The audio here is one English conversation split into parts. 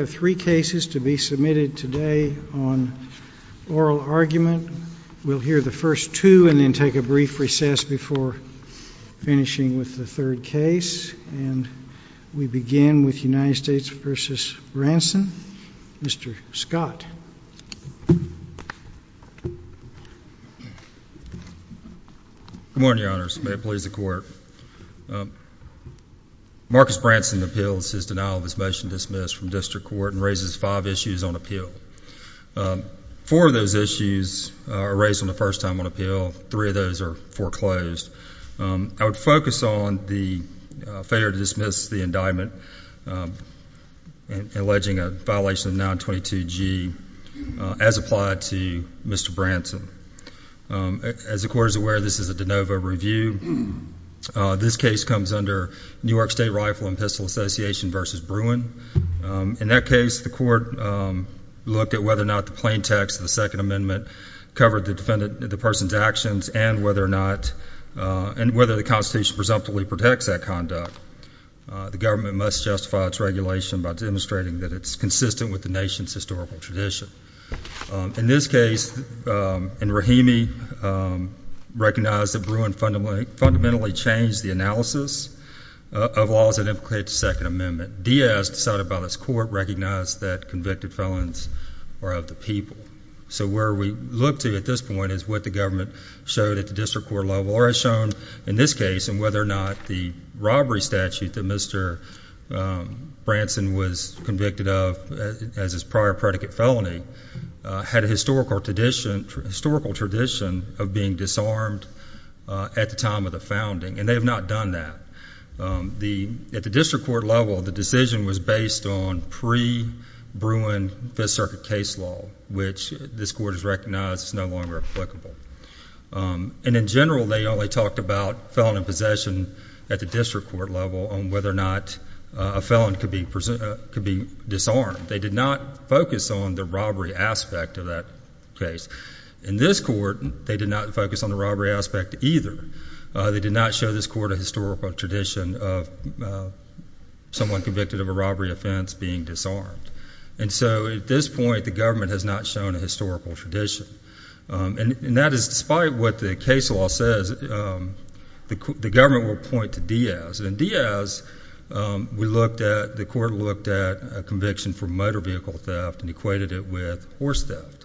I have three cases to be submitted today on oral argument. We'll hear the first two and then take a brief recess before finishing with the third case. And we begin with United States v. Branson. Mr. Scott. Good morning, your honors. May it please the court. Marcus Wharton raises five issues on appeal. Four of those issues are raised on the first time on appeal. Three of those are foreclosed. I would focus on the failure to dismiss the indictment alleging a violation of 922G as applied to Mr. Branson. As the court is aware, this is a de novo review. This case comes under New York State Rifle and Pistol Association v. Bruin. In that case, the court looked at whether or not the plain text of the Second Amendment covered the person's actions and whether or not the Constitution presumptively protects that conduct. The government must justify its regulation by demonstrating that it's consistent with the nation's historical tradition. In this case, in Rahimi, recognized that Bruin fundamentally changed the analysis of laws that implicated the Second Amendment. Diaz, decided by this court, recognized that convicted felons are of the people. So where we look to at this point is what the government showed at the district court level or has shown in this case and whether or not the robbery statute that Mr. Branson was convicted of as his prior predicate felony had a historical tradition of being disarmed at the time of the founding. And they have not done that. At the district court level, the decision was based on pre-Bruin Fifth Circuit case law, which this court has recognized is no longer applicable. And in general, they only talked about felon in possession at the district court level on whether or not a felon could be disarmed. They did not focus on the robbery aspect of that case. In this court, they did not focus on the robbery aspect either. They did not show this court a historical tradition of someone convicted of a robbery offense being disarmed. And so at this point, the government has not shown a historical tradition. And that is despite what the case law says, the government will point to Diaz. And Diaz, we looked at, the court looked at a conviction for motor vehicle theft and equated it with horse theft.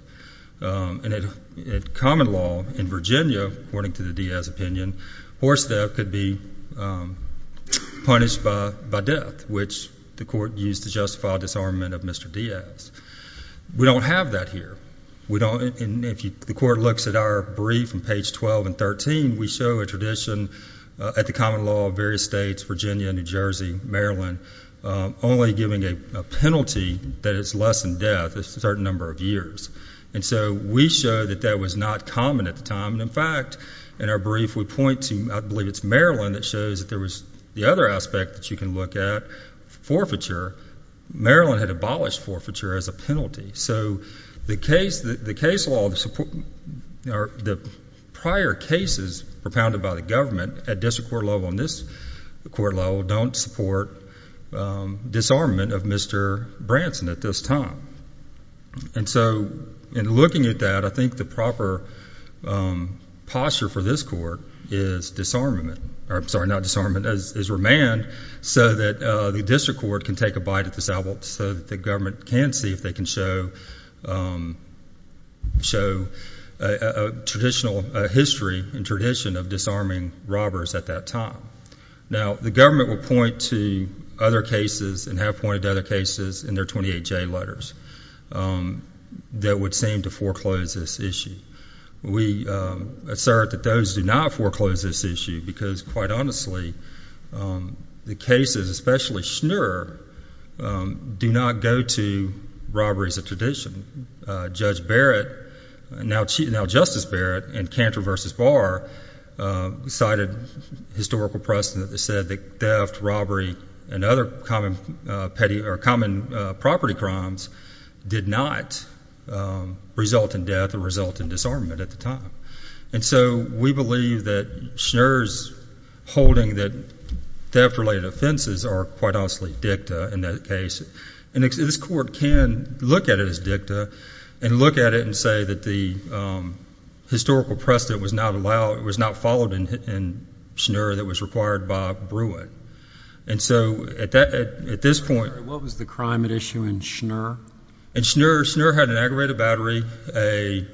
And at common law in Virginia, according to the Diaz opinion, horse theft could be punished by death, which the court used to justify disarmament of Mr. Diaz. We don't have that here. And if the court looks at our brief on page 12 and 13, we show a tradition at the common law of various states, Virginia, New Jersey, Maryland, only giving a penalty that is less than death, a certain number of years. And so we show that that was not common at the time. And in fact, in our brief, we point to, I believe it's Maryland that shows that there was the other aspect that you can look at, forfeiture. Maryland had abolished forfeiture as a penalty. So the case, the case law, the prior cases propounded by the government at district court level and this court level don't support disarmament of Mr. Branson at this time. And so in looking at that, I think the proper posture for this court is disarmament, sorry, not disarmament, is remand so that the district court can take a bite at this apple so that the government can see if they can show a traditional history and tradition of disarming robbers at that time. Now, the government will point to other cases and have pointed to other cases in their 28-J letters that would seem to foreclose this issue. We assert that those do not foreclose this issue because, quite honestly, the cases, especially Schnur, do not go to robberies of tradition. Judge Barrett, now Justice Barrett in Cantor v. Barr, cited historical precedent that said that theft, robbery, and other common property crimes did not result in death or result in disarmament at the time. And so we believe that Schnur's holding that theft-related offenses are, quite honestly, dicta in that case. And this court can look at it as dicta and look at it and say that the historical precedent was not allowed, was not followed in Schnur that was required by Brewett. And so at this point... What was the crime at issue in Schnur? In Schnur, Schnur had an aggravated battery, a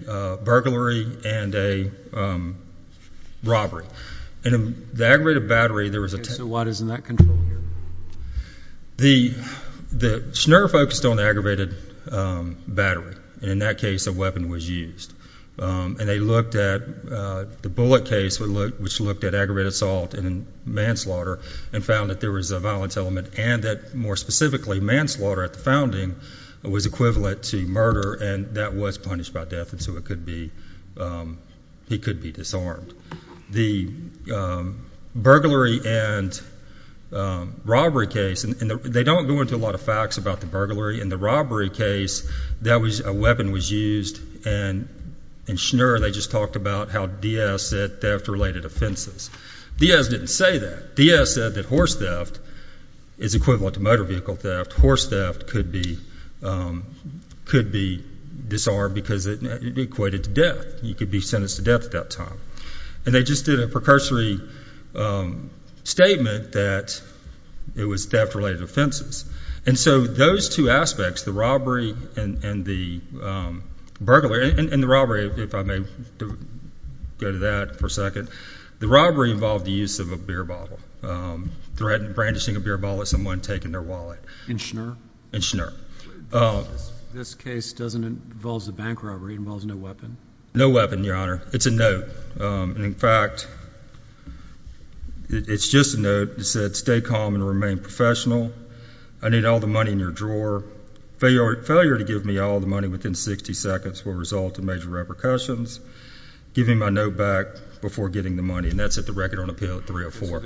burglary, and a robbery. In the aggravated battery, there was a... So what is in that control here? The Schnur focused on the aggravated battery. In that case, a weapon was used. And they looked at the Bullitt case, which looked at aggravated assault and manslaughter and found that there was a violence element and that, more specifically, manslaughter at the founding was equivalent to murder and that was punished by death and so it could be... He could be disarmed. The burglary and robbery case, and they don't go into a lot of facts about the burglary. In the robbery case, a weapon was used and in Schnur, they just talked about how Diaz said theft-related offenses. Diaz didn't say that. Diaz said that horse theft is equivalent to motor vehicle theft. Horse theft could be disarmed because it equated to death. You could be sentenced to death at that time. And they just did a precursory statement that it was theft-related offenses. And so those two aspects, the robbery and the burglary... And the robbery, if I may go to that for a moment, it's a beer bottle. Brandishing a beer bottle at someone and taking their wallet. In Schnur? In Schnur. This case doesn't involve a bank robbery. It involves no weapon? No weapon, Your Honor. It's a note. And in fact, it's just a note. It said, stay calm and remain professional. I need all the money in your drawer. Failure to give me all the money within 60 seconds will result in major repercussions. Give me my note back before giving the money. And that's at the record on Appeal 304.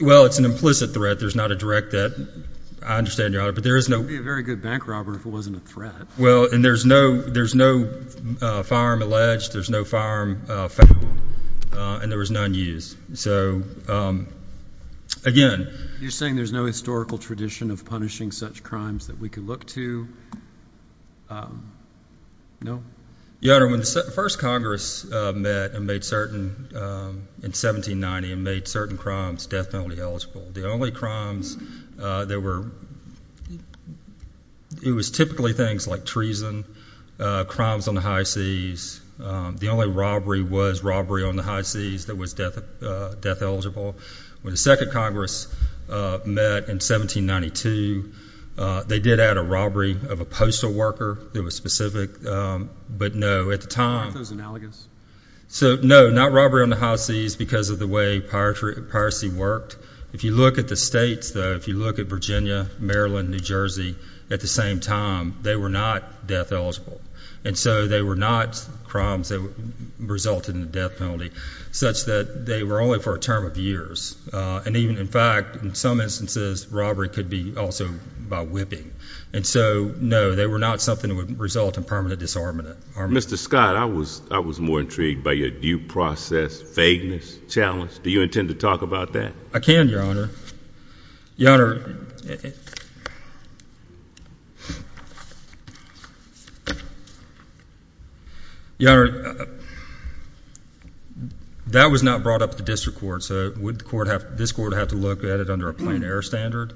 Well, it's an implicit threat. There's not a direct threat. I understand, Your Honor, but there is no... It would be a very good bank robber if it wasn't a threat. Well, and there's no firearm alleged. There's no firearm found. And there was none used. So again... You're saying there's no historical tradition of punishing such crimes that we could look to? No? Your Honor, when the first Congress met in 1790 and made certain crimes death penalty eligible, the only crimes that were... It was typically things like treason, crimes on the high seas. The only robbery was robbery on the high seas that was death eligible. When the second Congress met in 1792, they did add a robbery of a postal worker that was specific. But no, at the time... Aren't those analogous? So, no, not robbery on the high seas because of the way piracy worked. If you look at the states, though, if you look at Virginia, Maryland, New Jersey, at the same time, they were not death eligible. And so they were not crimes that resulted in a death penalty such that they were only for a term of years. And even, in fact, in some instances, robbery could be also by whipping. And so, no, they were not something that would result in permanent disarmament. Mr. Scott, I was more intrigued by your due process, vagueness, challenge. Do you intend to talk about that? I can, Your Honor. Your Honor... Your Honor, that was not brought up at the district court, so would this court have to look at it under a plain error standard?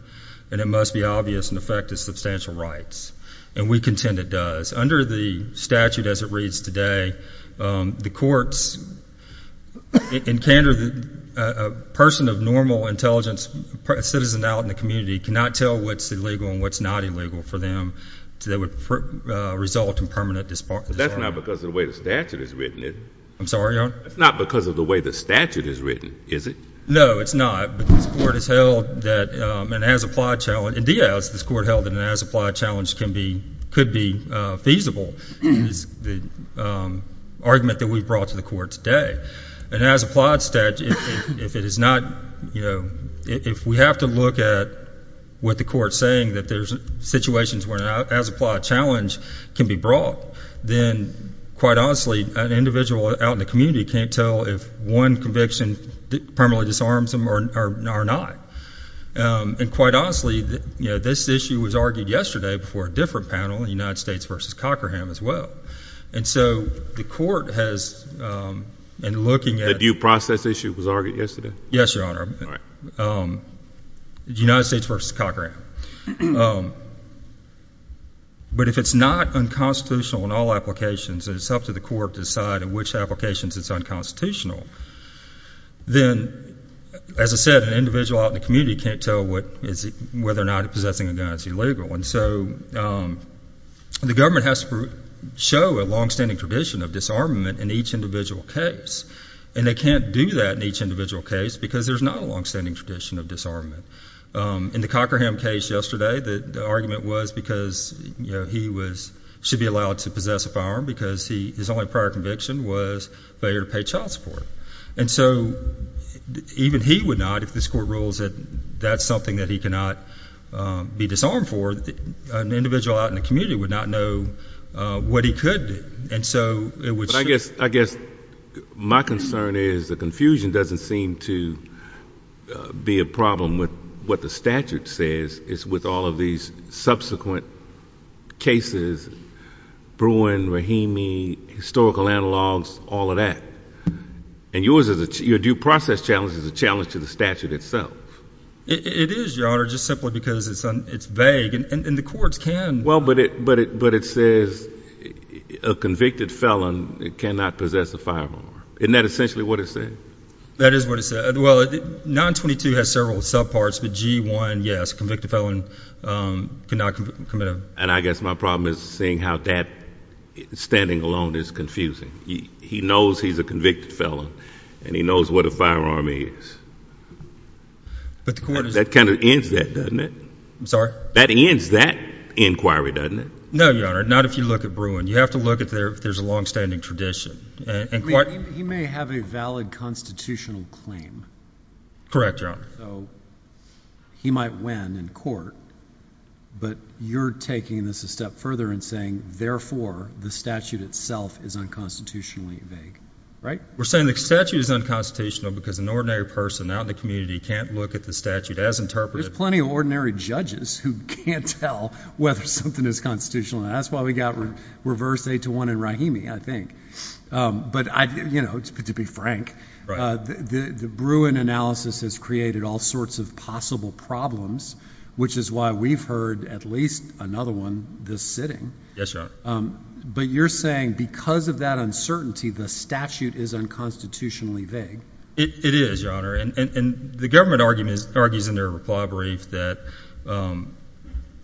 And it must be obvious, in effect, it's substantial rights. And we contend it does. Under the statute as it reads today, the courts encounter a person of normal intelligence, a citizen out in the community, cannot tell what's illegal and what's not illegal for them, so that would result in permanent disarmament. But that's not because of the way the statute has written it. I'm sorry, Your Honor? That's not because of the way the statute is written, is it? No, it's not. But this court has held that an as-applied challenge... Indeed, this court held that an as-applied challenge could be feasible, is the argument that we've brought to the court today. An as-applied statute, if it is not, you know... If we have to look at what the court is saying, that there's situations where an as-applied challenge can be brought, then, quite honestly, an individual out in the community can't tell if one conviction permanently disarms them or not. And quite honestly, you know, this issue was argued yesterday before a different panel, United States v. Cockerham, as well. And so the court has been looking at... The due process issue was argued yesterday? Yes, Your Honor. United States v. Cockerham. But if it's not unconstitutional in all applications, then it's up to the court to decide in which applications it's unconstitutional. Then, as I said, an individual out in the community can't tell whether or not they're possessing a gun. It's illegal. And so the government has to show a longstanding tradition of disarmament in each individual case. And they can't do that in each individual case because there's not a longstanding tradition of disarmament. In the Cockerham case yesterday, the argument was because he should be allowed to possess a firearm because his only prior conviction was failure to pay child support. And so even he would not, if this court rules that that's something that he cannot be disarmed for, an individual out in the community would not know what he could do. And so it would... But I guess my concern is the confusion doesn't seem to be a problem with what the statute says. It's with all of these subsequent cases, Bruin, Rahimi, historical analogs, all of that. And your due process challenge is a challenge to the statute itself. It is, Your Honor, just simply because it's vague. And the courts can... Well, but it says a convicted felon cannot possess a firearm. Isn't that essentially what it said? That is what it said. Well, 922 has several subparts, but G1, yes, convicted felon cannot commit a... And I guess my problem is seeing how that standing alone is confusing. He knows he's a convicted felon and he knows what a firearm is. But the court is... That kind of ends that, doesn't it? I'm sorry? That ends that inquiry, doesn't it? No, Your Honor, not if you look at Bruin. You have to look at if there's a longstanding tradition. I mean, he may have a valid constitutional claim. Correct, Your Honor. So he might win in court, but you're taking this a step further and saying, therefore, the statute itself is unconstitutionally vague, right? We're saying the statute is unconstitutional because an ordinary person out in the community can't look at the statute as interpreted. There's plenty of ordinary judges who can't tell whether something is constitutional. That's why we got reversed 8-1 in Rahimi, I think. But to be frank, the Bruin analysis has created all sorts of possible problems, which is why we've heard at least another one this sitting. Yes, Your Honor. But you're saying because of that uncertainty, the statute is unconstitutionally vague. It is, Your Honor. And the government argues in their reply brief that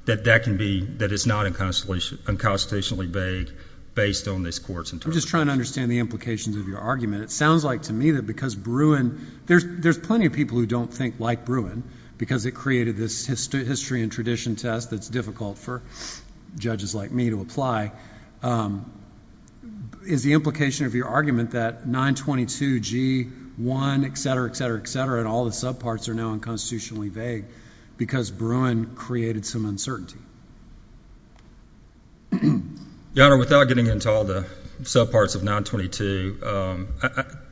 that can be, that it's not unconstitutionally vague based on this court's interpretation. I'm just trying to understand the implications of your argument. It sounds like to me that because Bruin, there's plenty of people who don't think like Bruin because it created this history and tradition test that's difficult for judges like me to apply. Is the implication of your argument that 922 G-1, et cetera, et cetera, et cetera, and all the subparts are now unconstitutionally vague because Bruin created some uncertainty? Your Honor, without getting into all the subparts of 922,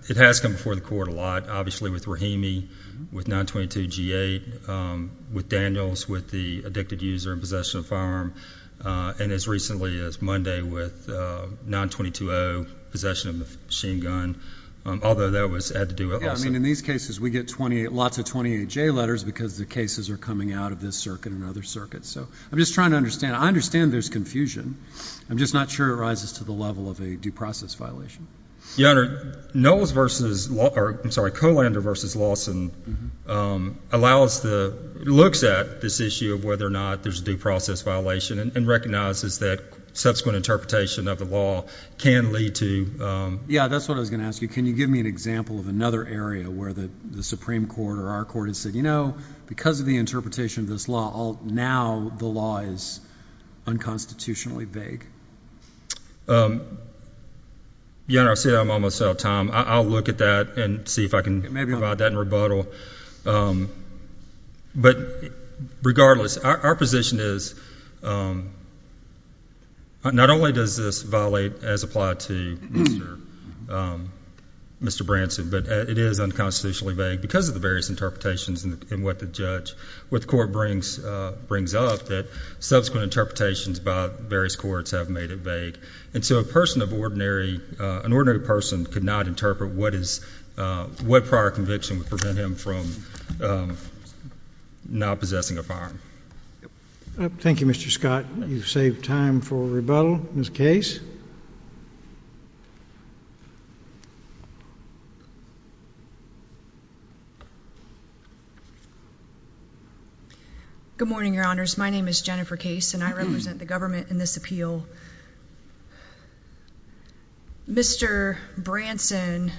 it has come before the court a lot. Obviously with Rahimi, with 922 G-8, with Daniels, with the addicted user in possession of a firearm, and as recently as Monday with 922-0, possession of a machine gun, although that had to do with Olson. Yes, I mean in these cases we get lots of 28-J letters because the cases are coming out of this circuit and other circuits. So I'm just trying to understand. I understand there's confusion. I'm just not sure it rises to the level of a due process violation. Your Honor, Kolander v. Lawson looks at this issue of whether or not there's a due process violation and recognizes that subsequent interpretation of the law can lead to... Yes, that's what I was going to ask you. Can you give me an example of another area where the Supreme Court or our court has said, you know, because of the interpretation of this law, now the law is unconstitutionally vague? Your Honor, I'm almost out of time. I'll look at that and see if I can provide that in rebuttal. But regardless, our position is not only does this violate as applied to Mr. Branson, but it is unconstitutionally vague because of the various interpretations and what the court brings up that subsequent interpretations by various courts have made it vague. And so an ordinary person could not interpret what prior conviction would prevent him from not possessing a firearm. Thank you, Mr. Scott. You've saved time for rebuttal. Ms. Case? Good morning, Your Honors. My name is Jennifer Case, and I represent the government in this case. Mr. Branson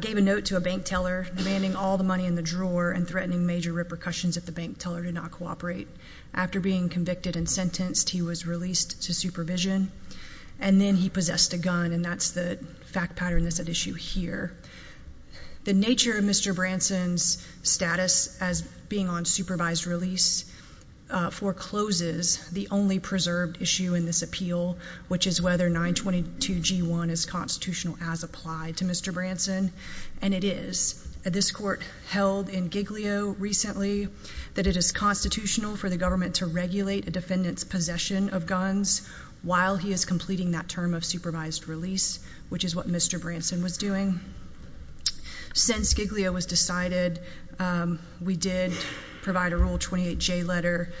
gave a note to a bank teller demanding all the money in the drawer and threatening major repercussions if the bank teller did not cooperate. After being convicted and sentenced, he was released to supervision, and then he possessed a gun, and that's the fact pattern that's at issue here. The nature of Mr. Branson's status as being on supervised release forecloses the only preserved issue in this appeal, which is whether 922 G1 is constitutional as applied to Mr. Branson. And it is. This court held in Giglio recently that it is constitutional for the government to regulate a defendant's possession of guns while he is completing that term of supervised release, which is what Mr. Branson was doing. Since Giglio was decided, we did provide a Rule 28J letter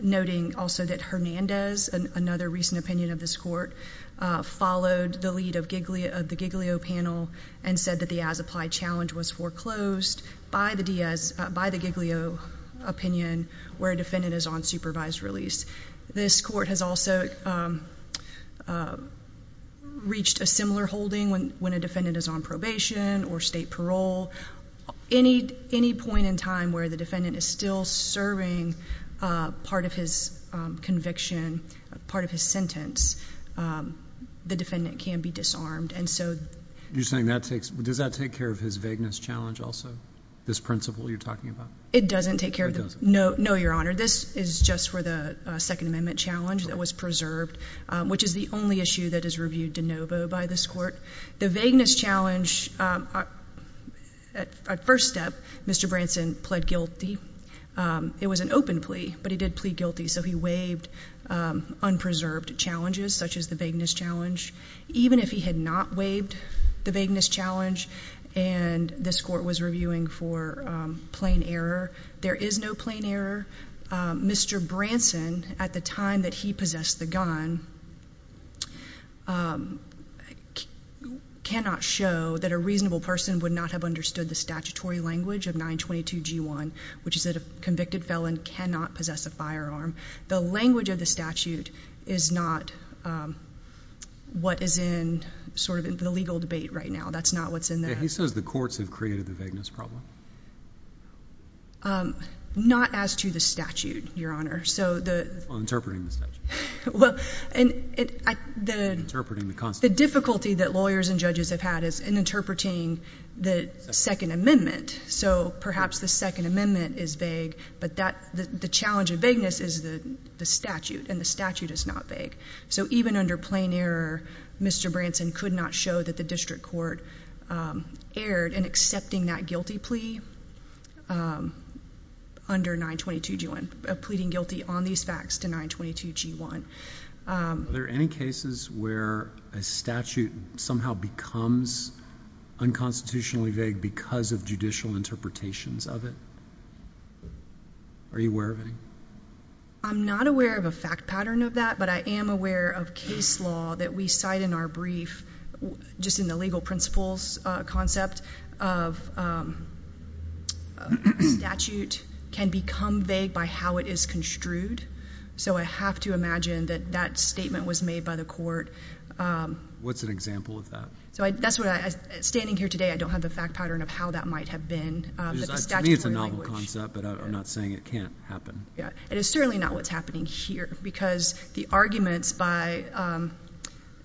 noting also that Hernandez, another recent opinion of this court, followed the lead of the Giglio panel and said that the as-applied challenge was foreclosed by the Giglio opinion where a defendant is on supervised release. This court has also reached a similar holding when a defendant is on supervised release, on probation, or state parole. Any point in time where the defendant is still serving part of his conviction, part of his sentence, the defendant can be disarmed, and so— You're saying that takes—does that take care of his vagueness challenge also, this principle you're talking about? It doesn't take care of— It doesn't? No, Your Honor. This is just for the Second Amendment challenge that was preserved, which is the only issue that is reviewed de novo by this court. The vagueness challenge, at first step, Mr. Branson pled guilty. It was an open plea, but he did plead guilty, so he waived unpreserved challenges such as the vagueness challenge. Even if he had not waived the vagueness challenge and this court was reviewing for plain error, there is no plain error. Mr. Branson, at the time that he possessed the gun, cannot show that a reasonable person would not have understood the statutory language of 922G1, which is that a convicted felon cannot possess a firearm. The language of the statute is not what is in sort of the legal debate right now. That's not what's in there. He says the courts have created the vagueness problem? Not as to the statute, Your Honor. On interpreting the statute? Well, the difficulty that lawyers and judges have had is in interpreting the Second Amendment. So perhaps the Second Amendment is vague, but the challenge of vagueness is the statute, and the statute is not vague. So even under plain error, Mr. Branson could not show that the district court erred in accepting that guilty plea under 922G1, pleading guilty on these facts to 922G1. Are there any cases where a statute somehow becomes unconstitutionally vague because of judicial interpretations of it? Are you aware of any? I'm not aware of a fact pattern of that, but I am aware of case law that we cite in our brief, just in the legal principles concept of a statute can become vague by how it is construed. So I have to imagine that that statement was made by the court. What's an example of that? Standing here today, I don't have the fact pattern of how that might have been. To me, it's a novel concept, but I'm not saying it can't happen. It is certainly not what's happening here, because the arguments by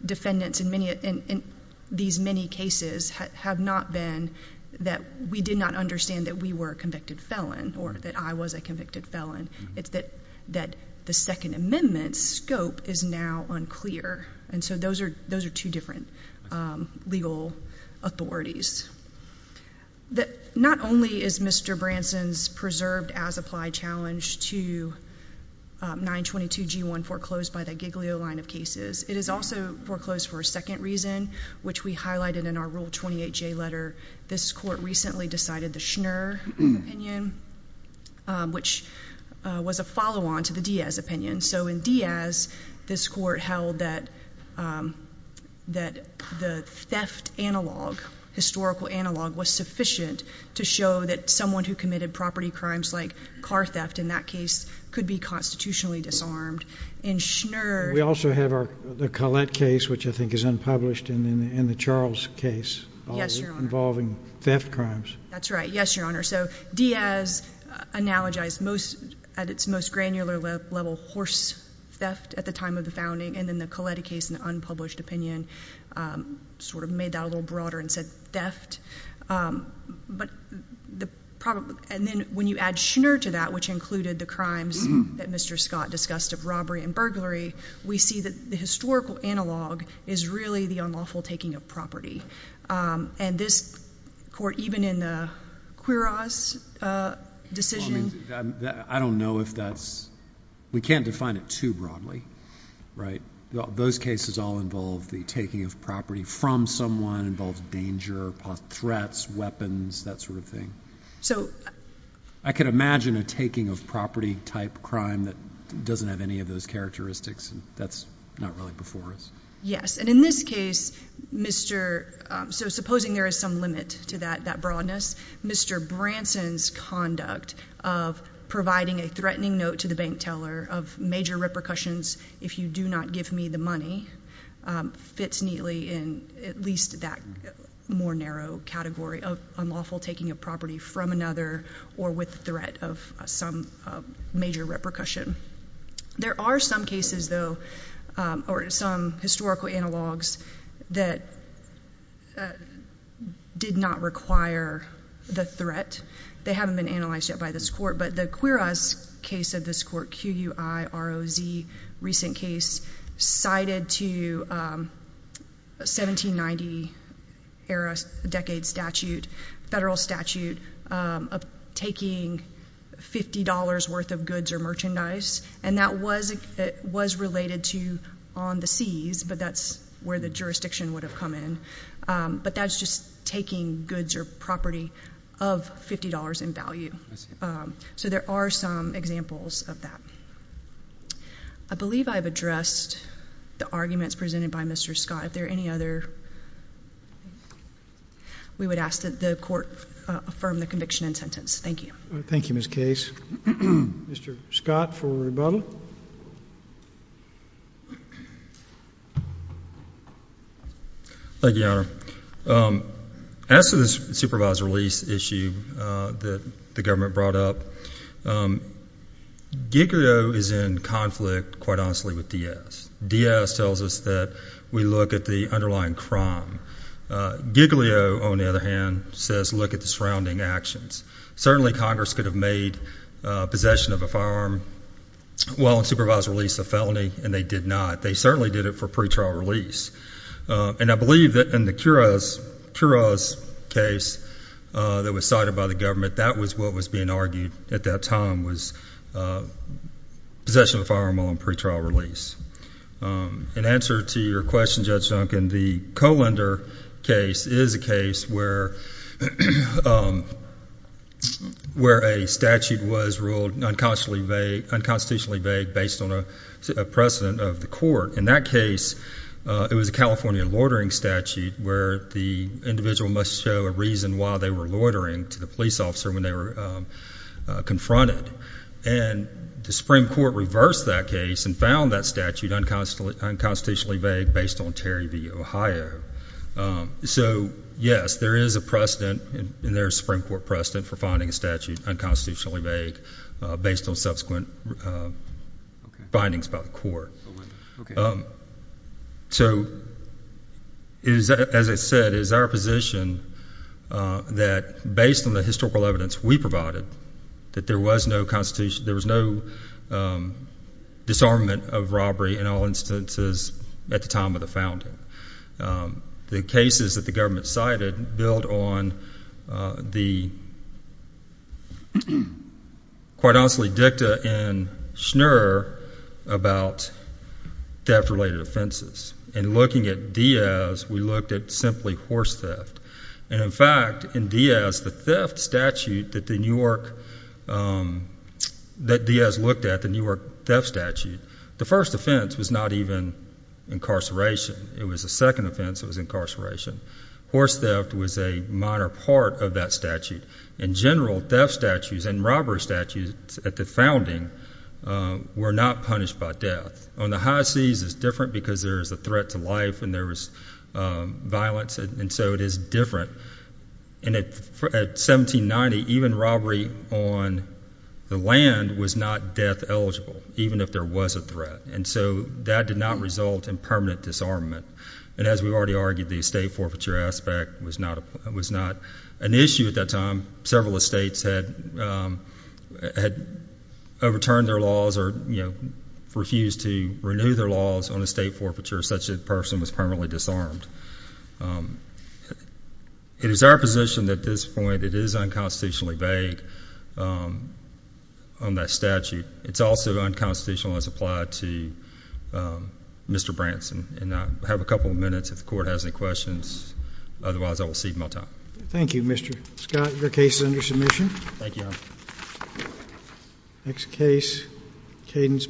defendants in these many cases have not been that we did not understand that we were a convicted felon or that I was a convicted felon. It's that the Second Amendment's scope is now unclear, and so those are two different legal authorities. Not only is Mr. Branson's preserved-as-applied challenge to 922G1 foreclosed by the Giglio line of cases, it is also foreclosed for a second reason, which we highlighted in our Rule 28J letter. This court recently decided the Schnur opinion, which was a follow-on to the Diaz opinion. So in Diaz, this court held that the theft analog historically was sufficient to show that someone who committed property crimes like car theft in that case could be constitutionally disarmed. We also have the Collette case, which I think is unpublished, and the Charles case involving theft crimes. That's right. Yes, Your Honor. So Diaz analogized at its most granular level horse theft at the time of the founding, and then the Collette case in the unpublished opinion sort of made that a little broader and said theft. And then when you add Schnur to that, which included the crimes that Mr. Scott discussed of robbery and burglary, we see that the historical analog is really the unlawful taking of property. And this court, even in the Quiroz decision— I don't know if that's—we can't define it too broadly, right? Those cases all involve the taking of property from someone, involves danger, threats, weapons, that sort of thing. I can imagine a taking of property type crime that doesn't have any of those characteristics. That's not really before us. Yes. And in this case, Mr.—so supposing there is some limit to that broadness, Mr. Branson's conduct of providing a threatening note to the bank teller of major repercussions if you do not give me the money fits neatly in at least that more narrow category of unlawful taking of property from another or with threat of some major repercussion. There are some cases, though, or some historical analogs that did not require the threat. They were, in a recent case, cited to 1790-era decade statute, federal statute, of taking $50 worth of goods or merchandise. And that was related to on the seas, but that's where the jurisdiction would have come in. But that's just taking goods or property of $50 in value. So there are some examples of that. I believe I've addressed the arguments presented by Mr. Scott. If there are any other, we would ask that the court affirm the conviction and sentence. Thank you. Thank you, Ms. Case. Mr. Scott, for rebuttal. Thank you, Your Honor. As to the supervisor release issue that the government brought up, Giglio is in conflict, quite honestly, with Diaz. Diaz tells us that we look at the underlying crime. Giglio, on the other hand, says look at the surrounding actions. Certainly Congress could have made possession of a firearm while in supervised release a felony, and they did not. They certainly did it for pretrial release. And I believe that in the Kuros case that was cited by the government, that was what was being argued at that time was possession of a firearm while in pretrial release. In answer to your question, Judge Duncan, the Kohlender case is a case where, in the case where a statute was ruled unconstitutionally vague based on a precedent of the court, in that case it was a California loitering statute where the individual must show a reason why they were loitering to the police officer when they were confronted. And the Supreme Court reversed that case and found that statute unconstitutionally vague based on Terry v. Ohio. So, yes, there is a precedent, and there is a Supreme Court precedent for finding a statute unconstitutionally vague based on subsequent findings by the court. So as I said, it is our position that based on the historical evidence we provided, that there was no disarmament of robbery in all instances at the time of the founding. So the cases that the government cited build on the, quite honestly, dicta and schner about theft-related offenses. And looking at Diaz, we looked at simply horse theft. And in fact, in Diaz, the theft statute that Diaz looked at, the Newark theft statute, the first offense was not even incarceration. It was the second offense that was incarceration. Horse theft was a minor part of that statute. In general, theft statutes and robbery statutes at the founding were not punished by death. On the high seas, it is different because there is a threat to life and there is violence, and so it is different. And at 1790, even robbery on the land was not death eligible, even if there was a threat. And so that did not result in permanent disarmament. And as we've already argued, the estate forfeiture aspect was not an issue at that time. Several estates had overturned their laws or refused to renew their laws on estate forfeiture such that a person was permanently disarmed. It is our position at this point, it is unconstitutionally vague on that statute. It's also unconstitutional as applied to Mr. Branson. And I have a couple of minutes if the Court has any questions. Otherwise, I will cede my time. Thank you, Mr. Scott. Your case is under submission. Thank you, Your Honor.